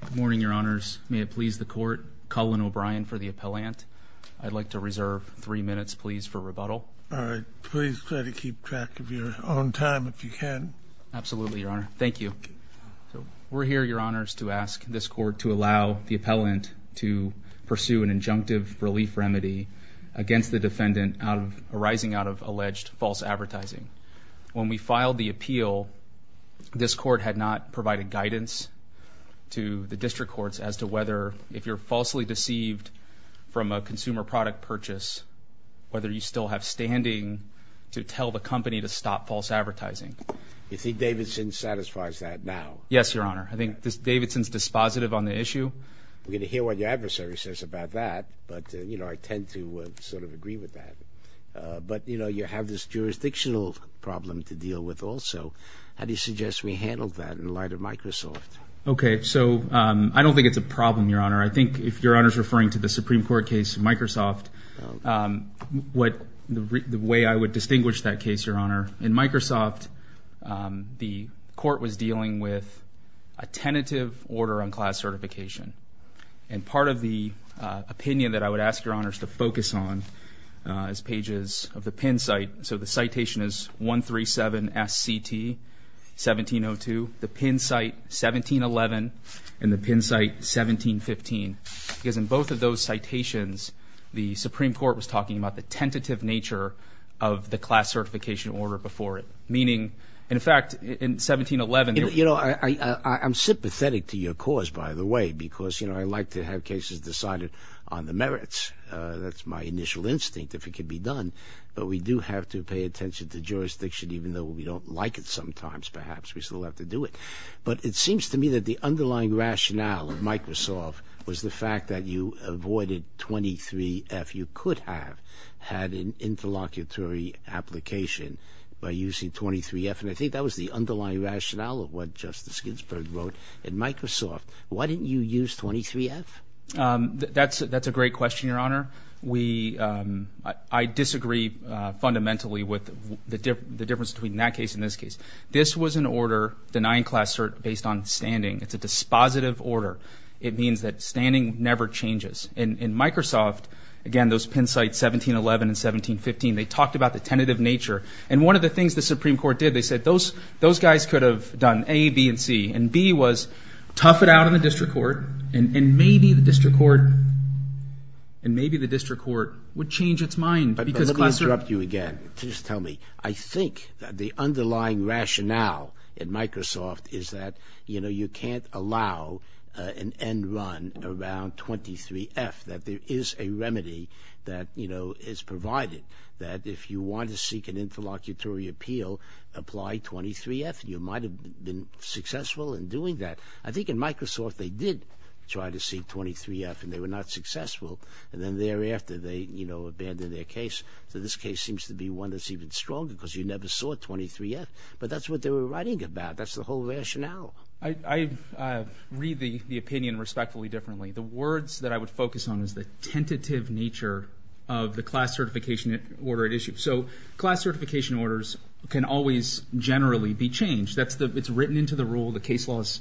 Good morning, your honors. May it please the court, Cullen O'Brien for the appellant. I'd like to reserve three minutes, please, for rebuttal. All right, please try to keep track of your own time if you can. Absolutely, your honor. Thank you. We're here, your honors, to ask this court to allow the appellant to pursue an injunctive relief remedy against the defendant arising out of alleged false advertising. When we filed the appeal, this court had not provided guidance to the district courts as to whether, if you're falsely deceived from a consumer product purchase, whether you still have standing to tell the company to stop false advertising. You think Davidson satisfies that now? Yes, your honor. I think Davidson's dispositive on the issue. We're gonna hear what your adversary says about that, but, you know, I tend to sort of agree with that. But, you know, you have this jurisdictional problem to deal with also. How do you handle that in light of Microsoft? Okay, so I don't think it's a problem, your honor. I think, if your honor's referring to the Supreme Court case in Microsoft, what the way I would distinguish that case, your honor, in Microsoft, the court was dealing with a tentative order on class certification. And part of the opinion that I would ask your honors to focus on as pages of the pin site, so the pin site 1711 and the pin site 1715. Because in both of those citations, the Supreme Court was talking about the tentative nature of the class certification order before it. Meaning, in fact, in 1711... You know, I'm sympathetic to your cause, by the way, because, you know, I like to have cases decided on the merits. That's my initial instinct, if it could be done. But we do have to pay attention to jurisdiction, even though we don't like it sometimes, perhaps. We still have to do it. But it seems to me that the underlying rationale of Microsoft was the fact that you avoided 23-F. You could have had an interlocutory application by using 23-F. And I think that was the underlying rationale of what Justice Ginsburg wrote in Microsoft. Why didn't you use 23-F? That's a great question, your honor. We... I disagree fundamentally with the difference between that case and this case. This was an order denying class cert based on standing. It's a dispositive order. It means that standing never changes. And in Microsoft, again, those pin sites 1711 and 1715, they talked about the tentative nature. And one of the things the Supreme Court did, they said, those guys could have done A, B, and C. And B was, tough it out in the district court, and maybe the district court would change its mind. Let me interrupt you again. Just tell me. I think that the underlying rationale in Microsoft is that, you know, you can't allow an end run around 23-F. That there is a remedy that, you know, is provided. That if you want to seek an interlocutory appeal, apply 23-F. You might have been successful in doing that. I think in Microsoft they did try to seek 23-F, and they were not able to abandon their case. So this case seems to be one that's even stronger because you never saw 23-F. But that's what they were writing about. That's the whole rationale. I read the opinion respectfully differently. The words that I would focus on is the tentative nature of the class certification order at issue. So class certification orders can always generally be changed. It's written into the rule. The case law is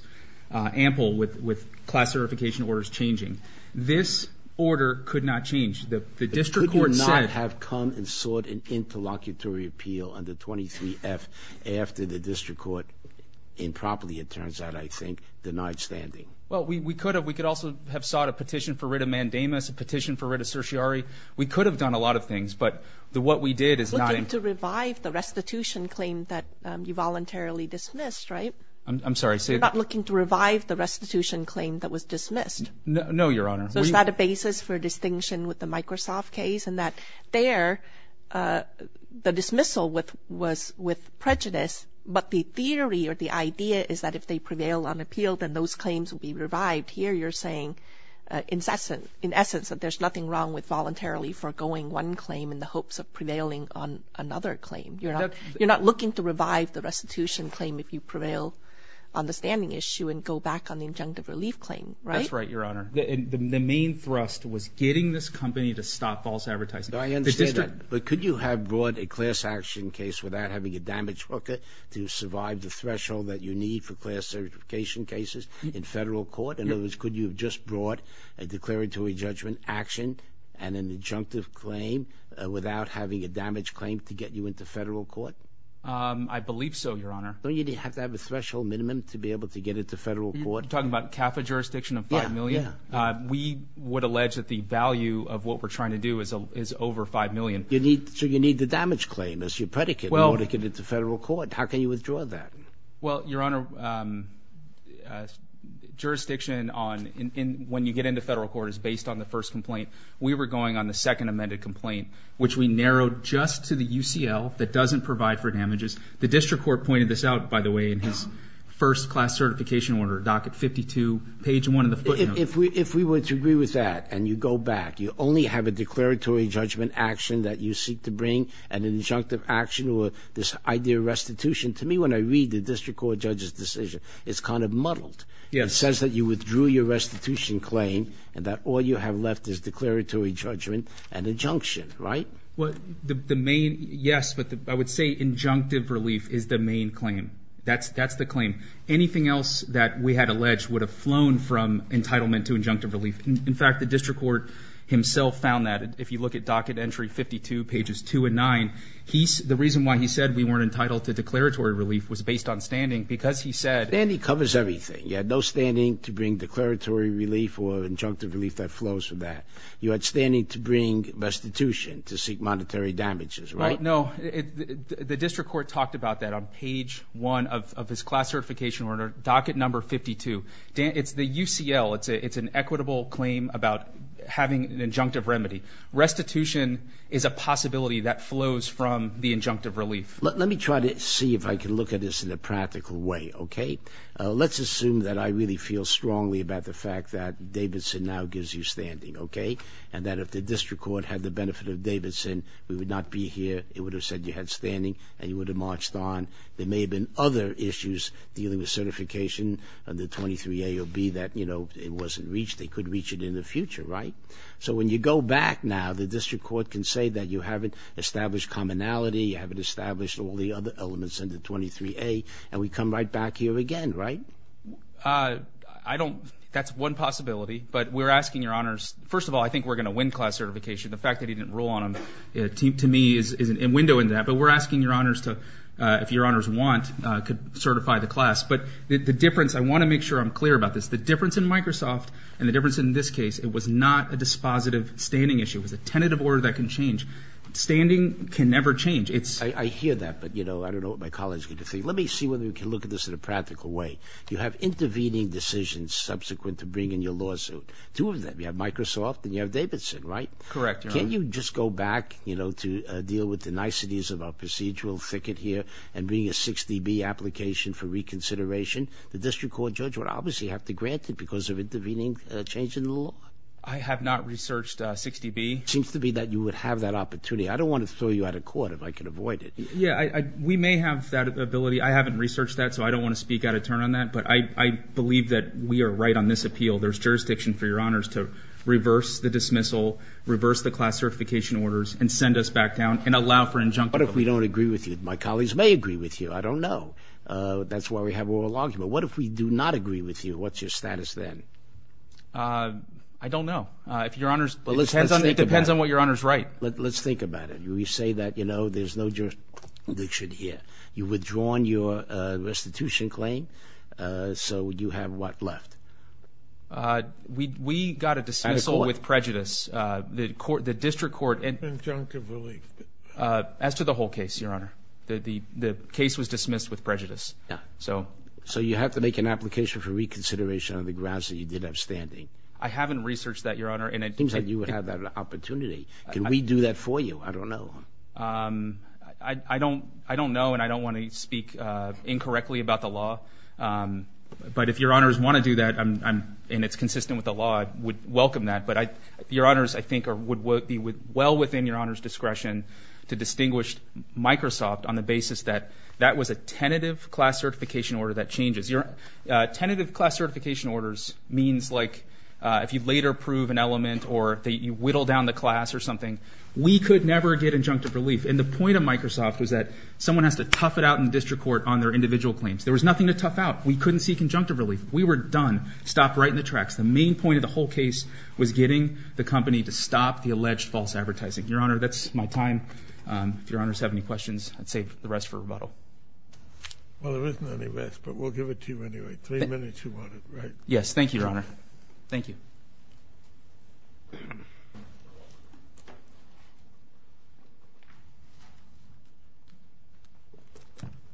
ample with class certification orders changing. This order could not change. The district court said... It could not have come and sought an interlocutory appeal under 23-F after the district court, improperly it turns out, I think, denied standing. Well, we could have. We could also have sought a petition for writ of mandamus, a petition for writ of certiorari. We could have done a lot of things, but what we did is not... Looking to revive the restitution claim that you voluntarily dismissed, right? I'm sorry, say that again. To revive the restitution claim that was dismissed. No, Your Honor. So is that a basis for distinction with the Microsoft case in that there, the dismissal was with prejudice, but the theory or the idea is that if they prevail on appeal, then those claims will be revived. Here you're saying, in essence, that there's nothing wrong with voluntarily foregoing one claim in the hopes of prevailing on another claim. You're not looking to revive the restitution claim if you go back on the injunctive relief claim, right? That's right, Your Honor. The main thrust was getting this company to stop false advertising. I understand that, but could you have brought a class action case without having a damage worker to survive the threshold that you need for class certification cases in federal court? In other words, could you have just brought a declaratory judgment action and an injunctive claim without having a damage claim to get you into federal court? I believe so, Your Honor. Don't you have to have a threshold minimum to be able to get it to federal court? You're talking about CAFA jurisdiction of 5 million? Yeah, yeah. We would allege that the value of what we're trying to do is over 5 million. You need to, you need the damage claim as your predicate in order to get it to federal court. How can you withdraw that? Well, Your Honor, jurisdiction on, when you get into federal court is based on the first complaint. We were going on the second amended complaint, which we narrowed just to the UCL that doesn't provide for certification order, docket 52, page 1 of the footnote. If we were to agree with that and you go back, you only have a declaratory judgment action that you seek to bring and an injunctive action or this idea of restitution. To me, when I read the district court judge's decision, it's kind of muddled. It says that you withdrew your restitution claim and that all you have left is declaratory judgment and injunction, right? Well, the main, yes, but I would say injunctive relief is the main claim. That's the claim. Anything else that we had alleged would have flown from entitlement to injunctive relief. In fact, the district court himself found that. If you look at docket entry 52, pages 2 and 9, the reason why he said we weren't entitled to declaratory relief was based on standing because he said... Standing covers everything. You had no standing to bring declaratory relief or injunctive relief that flows from that. You had standing to bring restitution to seek monetary damages, right? No, the district court talked about that on page 1 of his class certification order, docket number 52. It's the UCL. It's an equitable claim about having an injunctive remedy. Restitution is a possibility that flows from the injunctive relief. Let me try to see if I can look at this in a practical way, okay? Let's assume that I really feel strongly about the fact that Davidson now gives you standing, okay? And that if the district court had the benefit of would have marched on, there may have been other issues dealing with certification under 23A or B that, you know, it wasn't reached. They could reach it in the future, right? So when you go back now, the district court can say that you haven't established commonality, you haven't established all the other elements under 23A, and we come right back here again, right? I don't... That's one possibility, but we're asking your honors... First of all, I think we're gonna win class certification. The fact that he didn't rule on them, to me, is a window into that, but we're asking your honors to, if your honors want, could certify the class. But the difference, I want to make sure I'm clear about this, the difference in Microsoft and the difference in this case, it was not a dispositive standing issue. It was a tentative order that can change. Standing can never change. It's... I hear that, but you know, I don't know what my colleagues are going to think. Let me see whether we can look at this in a practical way. You have intervening decisions subsequent to bringing your lawsuit. Two of them. You have Microsoft and you have Davidson, right? Correct, Your Honor. Can't you just go back, you know, to the niceties of our procedural thicket here and bring a 60B application for reconsideration? The district court judge would obviously have to grant it because of intervening change in the law. I have not researched 60B. Seems to be that you would have that opportunity. I don't want to throw you out of court if I could avoid it. Yeah, I... We may have that ability. I haven't researched that, so I don't want to speak out of turn on that, but I believe that we are right on this appeal. There's jurisdiction for your honors to reverse the dismissal, reverse the class certification orders, and send us back down and allow for an injunctive... What if we don't agree with you? My colleagues may agree with you. I don't know. That's why we have oral argument. What if we do not agree with you? What's your status then? I don't know. If Your Honor's... It depends on what Your Honor's right. Let's think about it. You say that, you know, there's no jurisdiction here. You've withdrawn your restitution claim, so you have what left? We got a dismissal with prejudice. The court, the district court... As to the whole case, Your Honor, the case was dismissed with prejudice. Yeah. So you have to make an application for reconsideration on the grounds that you did have standing. I haven't researched that, Your Honor, and it seems that you would have that opportunity. Can we do that for you? I don't know. I don't know, and I don't want to speak incorrectly about the fact that I'm... And it's consistent with the law. I would welcome that, but Your Honor's, I think, would be well within Your Honor's discretion to distinguish Microsoft on the basis that that was a tentative class certification order that changes. Tentative class certification orders means, like, if you later prove an element or that you whittle down the class or something. We could never get injunctive relief, and the point of Microsoft was that someone has to tough it out in district court on their individual claims. There was nothing to tough out. We couldn't see conjunctive relief. We were done. Stopped right in the tracks. The main point of the whole case was getting the company to stop the alleged false advertising. Your Honor, that's my time. If Your Honor's have any questions, I'd save the rest for rebuttal. Well, there isn't any rest, but we'll give it to you anyway. Three minutes, if you want it, right? Yes. Thank you, Your Honor. Thank you.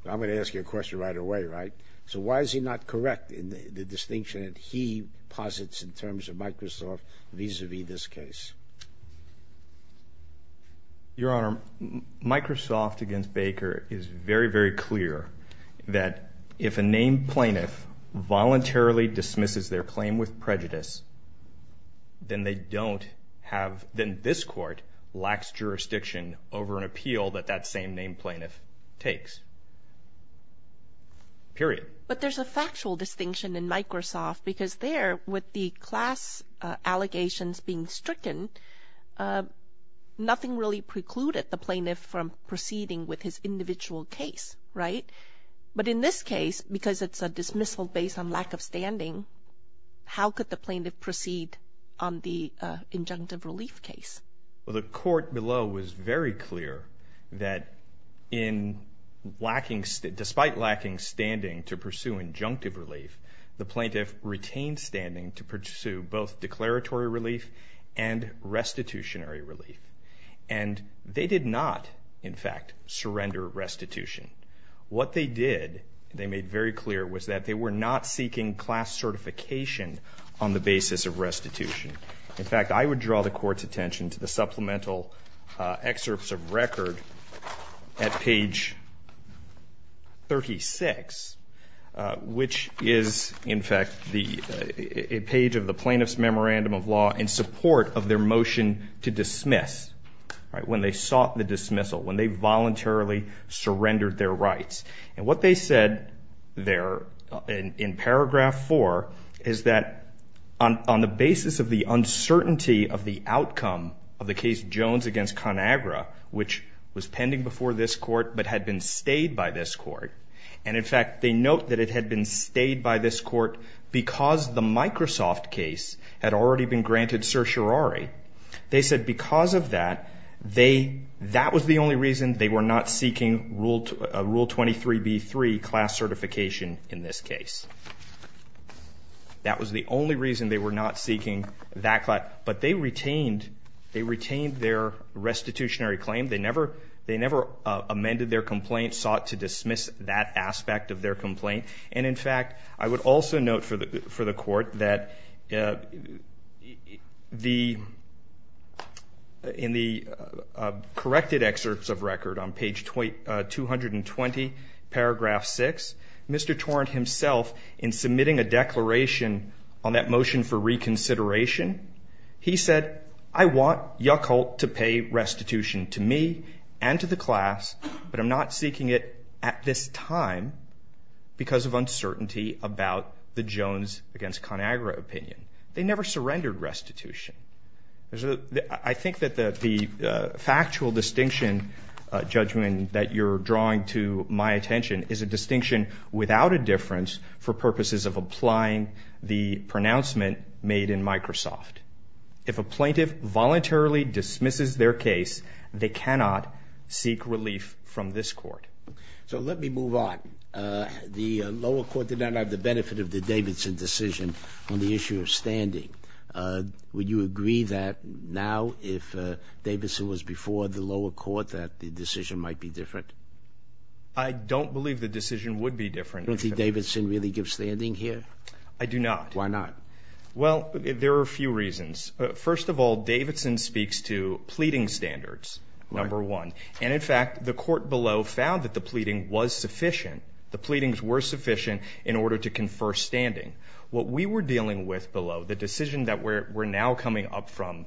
I'm going to ask you a question right away, right? So why is he not correct in the distinction that he posits in terms of Microsoft vis-a-vis this case? Your Honor, Microsoft against Baker is very, very clear that if a named plaintiff voluntarily dismisses their claim with prejudice, then they don't have, then this court lacks jurisdiction over an appeal that that same named plaintiff takes. Period. But there's a factual distinction in Microsoft because there, with the class allegations being stricken, nothing really precluded the plaintiff from proceeding with his individual case, right? But in this case, because it's a dismissal based on lack of standing, how could the plaintiff proceed on the injunctive relief case? Well, the court below was very clear that in lacking, despite lacking standing to pursue injunctive relief, the plaintiff retained standing to pursue both declaratory relief and restitutionary relief. And they did not, in fact, surrender restitution. What they did, they made very clear, was that they were not seeking class certification on the basis of restitution. In fact, I would draw the court's attention to the supplemental excerpts of record at page 36, which is, in fact, the page of the plaintiff's memorandum of law in support of their motion to dismiss, right? When they sought the dismissal, when they voluntarily surrendered their rights. And what they said there in paragraph four, is that on the basis of the uncertainty of the outcome of the case Jones against ConAgra, which was pending before this court, but had been stayed by this court. And in fact, they note that it had been stayed by this court because the Microsoft case had already been granted certiorari. They said because of that, they, that was the only reason they were not seeking rule 23b3 class certification in this case. That was the only reason they were not seeking that class. But they retained, they retained their restitutionary claim. They never, they never amended their complaint, sought to dismiss that aspect of their complaint. And in fact, I would also note for the, for the court that the, in the corrected excerpts of record on page 220, paragraph six, Mr. Torrent himself, in submitting a declaration on that motion for reconsideration, he said, I want Yuckholt to pay restitution to me and to the class, but I'm not seeking it at this time because of uncertainty about the Jones against ConAgra opinion. They never surrendered restitution. There's a, I think that the, the factual distinction judgment that you're drawing to my mind is a distinction without a difference for purposes of applying the pronouncement made in Microsoft. If a plaintiff voluntarily dismisses their case, they cannot seek relief from this court. So let me move on. The lower court did not have the benefit of the Davidson decision on the issue of standing. Would you agree that now, if Davidson was before the lower court, that the decision might be different? I don't believe the decision would be different. Don't think Davidson really gives standing here? I do not. Why not? Well, there are a few reasons. First of all, Davidson speaks to pleading standards, number one. And in fact, the court below found that the pleading was sufficient. The pleadings were sufficient in order to confer standing. What we were dealing with below, the decision that we're now coming up from,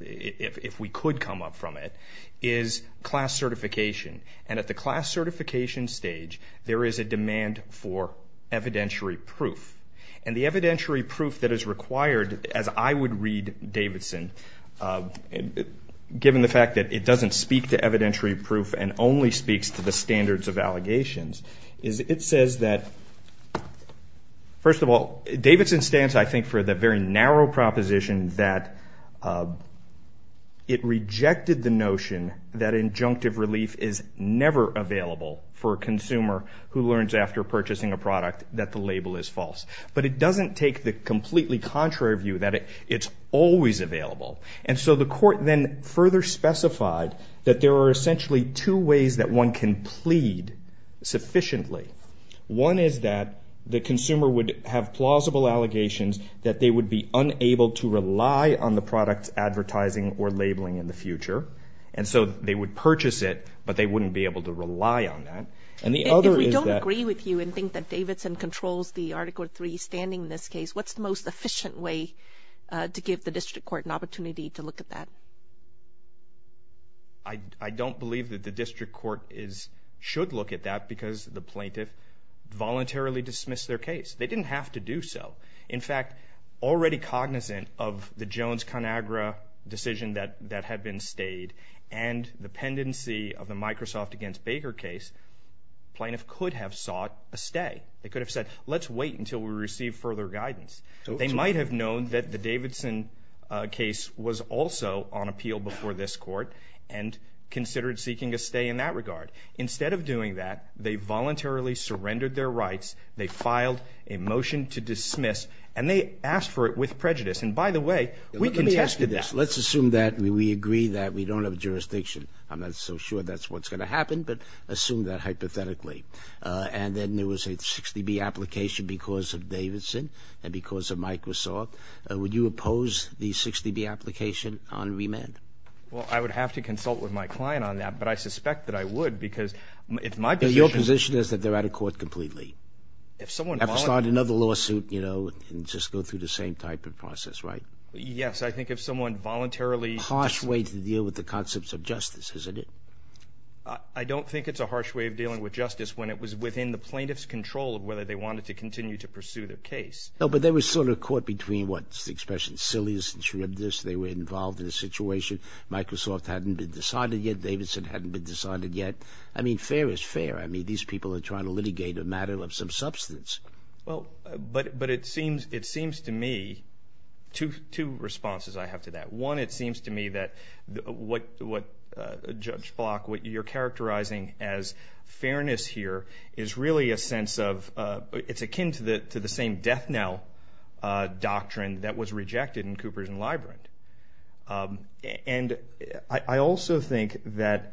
if we could come up from it, is class certification. And at the class certification stage, there is a demand for evidentiary proof. And the evidentiary proof that is required, as I would read Davidson, given the fact that it doesn't speak to evidentiary proof and only speaks to the standards of allegations, is it says that, first of all, Davidson stands, I think, for the very narrow proposition that it rejected the notion that injunctive relief is never available for a consumer who learns after purchasing a product that the label is false. But it doesn't take the completely contrary view that it's always available. And so the court then further specified that there are essentially two ways that one can plead sufficiently. One is that the consumer would have plausible allegations that they would be unable to rely on the product's advertising or labeling in the future. And so they would purchase it, but they wouldn't be able to rely on that. And the other is that... If we don't agree with you and think that Davidson controls the Article III standing in this case, what's the most efficient way to give the district court an opportunity to look at that? I don't believe that the district court should look at that because the plaintiff voluntarily dismissed their case. They didn't have to do so. In fact, already cognizant of the Jones-Conagra decision that had been stayed and the pendency of the Microsoft against Baker case, plaintiff could have sought a stay. They could have said, let's wait until we receive further guidance. They might have known that the Davidson case was also on appeal before this court and considered seeking a stay in that regard. Instead of doing that, they voluntarily surrendered their rights. They filed a motion to dismiss, and they asked for it with prejudice. And by the way, we contested that. Let's assume that we agree that we don't have jurisdiction. I'm not so sure that's what's going to happen, but assume that hypothetically. And then there was a 60B application because of Davidson and because of Microsoft. Would you oppose the 60B application on remand? Well, I would have to consult with my client on that, but I suspect that I would because if my position... If someone... Have to start another lawsuit, you know, and just go through the same type of process, right? Yes, I think if someone voluntarily... Harsh way to deal with the concepts of justice, isn't it? I don't think it's a harsh way of dealing with justice when it was within the plaintiff's control of whether they wanted to continue to pursue their case. No, but they were sort of caught between, what's the expression, silliness and shrewdness. They were involved in a situation. Microsoft hadn't been decided yet. Davidson hadn't been decided yet. I mean, fair is fair. I mean, these people are trying to litigate a matter of some substance. Well, but it seems to me... Two responses I have to that. One, it seems to me that what, Judge Block, what you're characterizing as fairness here is really a sense of, it's akin to the same death knell doctrine that was rejected in Coopers and Librand. And I also think that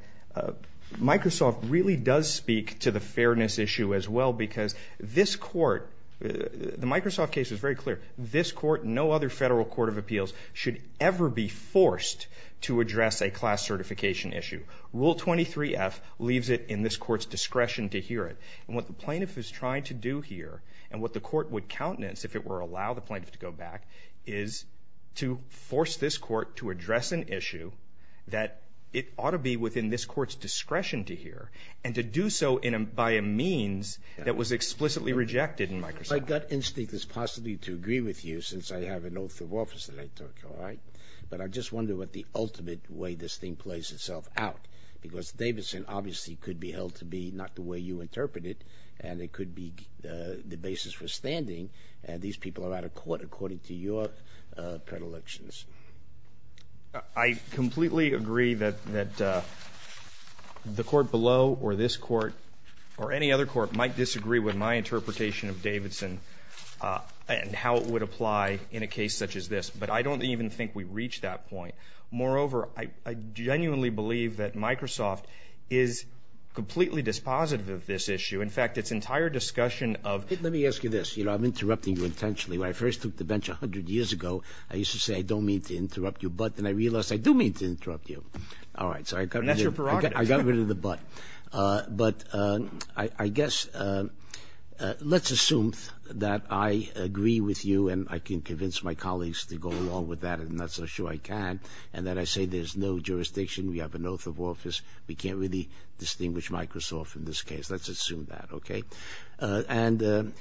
Microsoft really does speak to the fairness issue as well because this court, the Microsoft case was very clear, this court, no other federal court of appeals should ever be forced to address a class certification issue. Rule 23F leaves it in this court's discretion to hear it. And what the plaintiff is trying to do here, and what the court would countenance if it were to allow the plaintiff to go back, is to force this court to address an issue that it ought to be within this court's discretion to hear, and to do so by a means that was explicitly rejected in Microsoft. My gut instinct is possibly to agree with you since I have an oath of office that I took, all right? But I just wonder what the ultimate way this thing plays itself out because Davidson obviously could be held to be not the way you would like it to be in a Colorado court according to your predilections. I completely agree that the court below, or this court, or any other court might disagree with my interpretation of Davidson and how it would apply in a case such as this. But I don't even think we've reached that point. Moreover, I genuinely believe that Microsoft is completely dispositive of this issue. In fact, its entire discussion of... When I first took the bench a hundred years ago, I used to say, I don't mean to interrupt you, but then I realized I do mean to interrupt you. All right, so I got rid of the but. But I guess let's assume that I agree with you and I can convince my colleagues to go along with that, and I'm not so sure I can, and that I say there's no jurisdiction, we have an oath of office, we can't really distinguish Microsoft in this case. Let's assume that, okay? And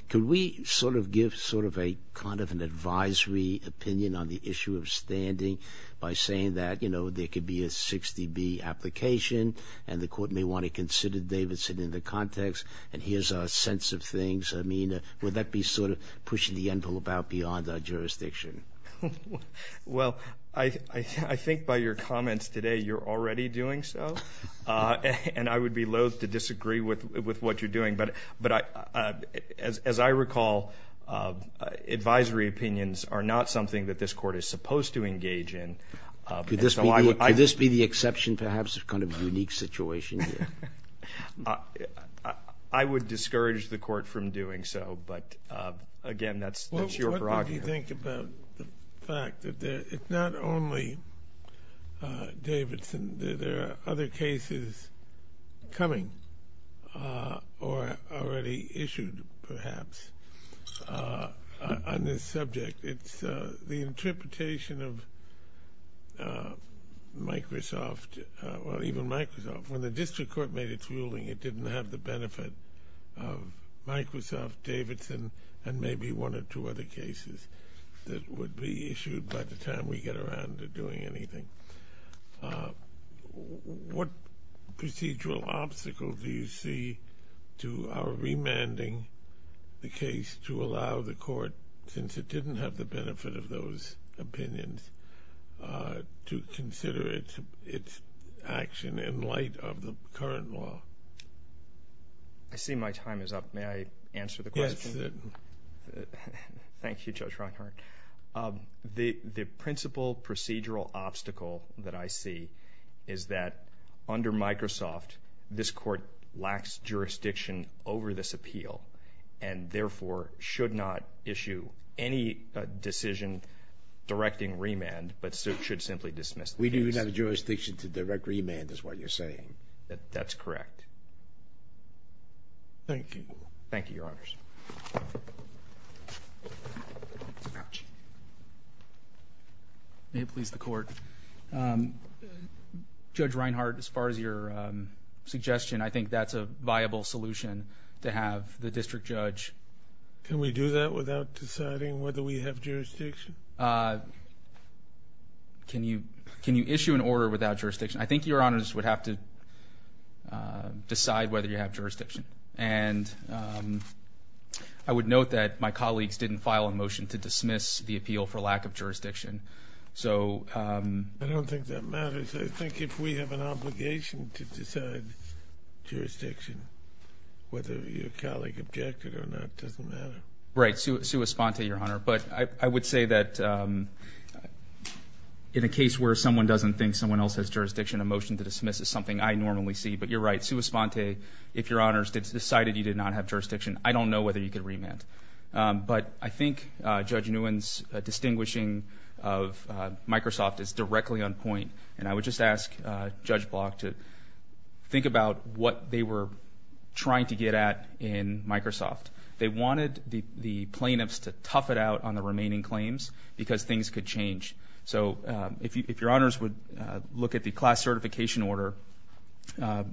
could we sort of give sort of a kind of an advisory opinion on the issue of standing by saying that, you know, there could be a 60B application, and the court may want to consider Davidson in the context, and here's our sense of things. I mean, would that be sort of pushing the envelope out beyond our jurisdiction? Well, I think by your comments today, you're already doing so, and I would be I recall advisory opinions are not something that this court is supposed to engage in. Could this be the exception, perhaps, of kind of a unique situation? I would discourage the court from doing so, but again, that's your prerogative. What do you think about the fact that it's not only Davidson, there are other cases coming, or already issued, perhaps, on this subject. It's the interpretation of Microsoft, or even Microsoft. When the district court made its ruling, it didn't have the benefit of Microsoft, Davidson, and maybe one or two other cases that would be issued by the time we get around to doing anything. What procedural obstacles do you see to our remanding the case to allow the court, since it didn't have the benefit of those opinions, to consider its action in light of the current law? I see my time is up. May I answer the question? Yes. Thank you, Judge Rockhardt. The principal procedural obstacle that I see is that under Microsoft, this court lacks jurisdiction over this appeal, and therefore should not issue any decision directing remand, but should simply dismiss the case. We do not have jurisdiction to direct remand, is what you're saying. That's correct. Thank you. Thank you, Your Honors. May it please the court. Judge Reinhardt, as far as your suggestion, I think that's a viable solution to have the district judge... Can we do that without deciding whether we have jurisdiction? Can you issue an order without jurisdiction? I think Your Honors would have to decide whether you have jurisdiction, and I would note that my colleagues didn't file a motion to dismiss the appeal for lack of jurisdiction, so... I don't think that matters. I think if we have an obligation to decide jurisdiction, whether your colleague objected or not, doesn't matter. Right, sui sponte, Your Honor, but I would say that in a case where someone doesn't think someone else has jurisdiction, a motion to dismiss is something I normally see, but you're right, sui sponte, if Your Honors decided you did not have jurisdiction, I don't know whether you could remand. But I think Judge Nguyen's distinguishing of Microsoft is directly on point, and I would just ask Judge Block to think about what they were trying to get at in Microsoft. They wanted the the plaintiffs to tough it out on the remaining claims because things could change. So if Your Honors would look at the class certification order,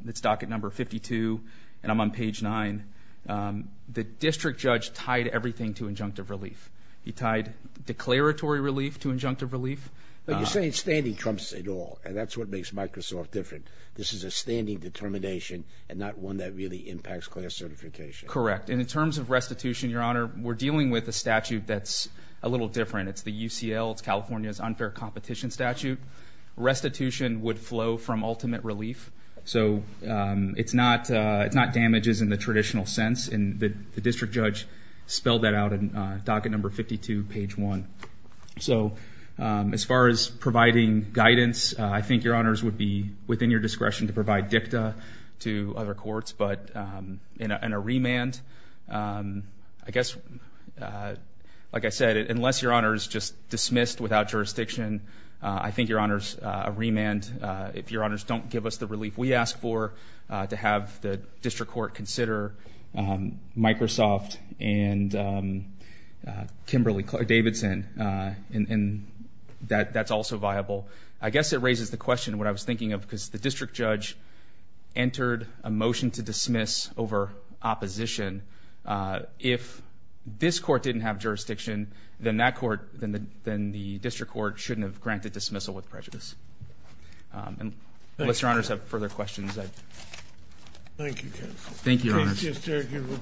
it's docket number 52, and I'm on page 9. The district judge tied everything to injunctive relief. He tied declaratory relief to injunctive relief. But you're saying standing trumps it all, and that's what makes Microsoft different. This is a standing determination and not one that really impacts class certification. Correct, and in terms of statute that's a little different, it's the UCL, it's California's unfair competition statute. Restitution would flow from ultimate relief. So it's not it's not damages in the traditional sense, and the district judge spelled that out in docket number 52, page 1. So as far as providing guidance, I think Your Honors would be within your discretion to provide dicta to other I guess, like I said, unless Your Honors just dismissed without jurisdiction, I think Your Honors, a remand, if Your Honors don't give us the relief we ask for, to have the district court consider Microsoft and Kimberly Davidson, and that that's also viable. I guess it raises the question what I was thinking of, because the district judge entered a motion to dismiss over opposition. If this court didn't have jurisdiction, then that court, then the district court shouldn't have granted dismissal with prejudice. Unless Your Honors have further questions, I'd... Thank you, counsel. Thank you, Your Honors.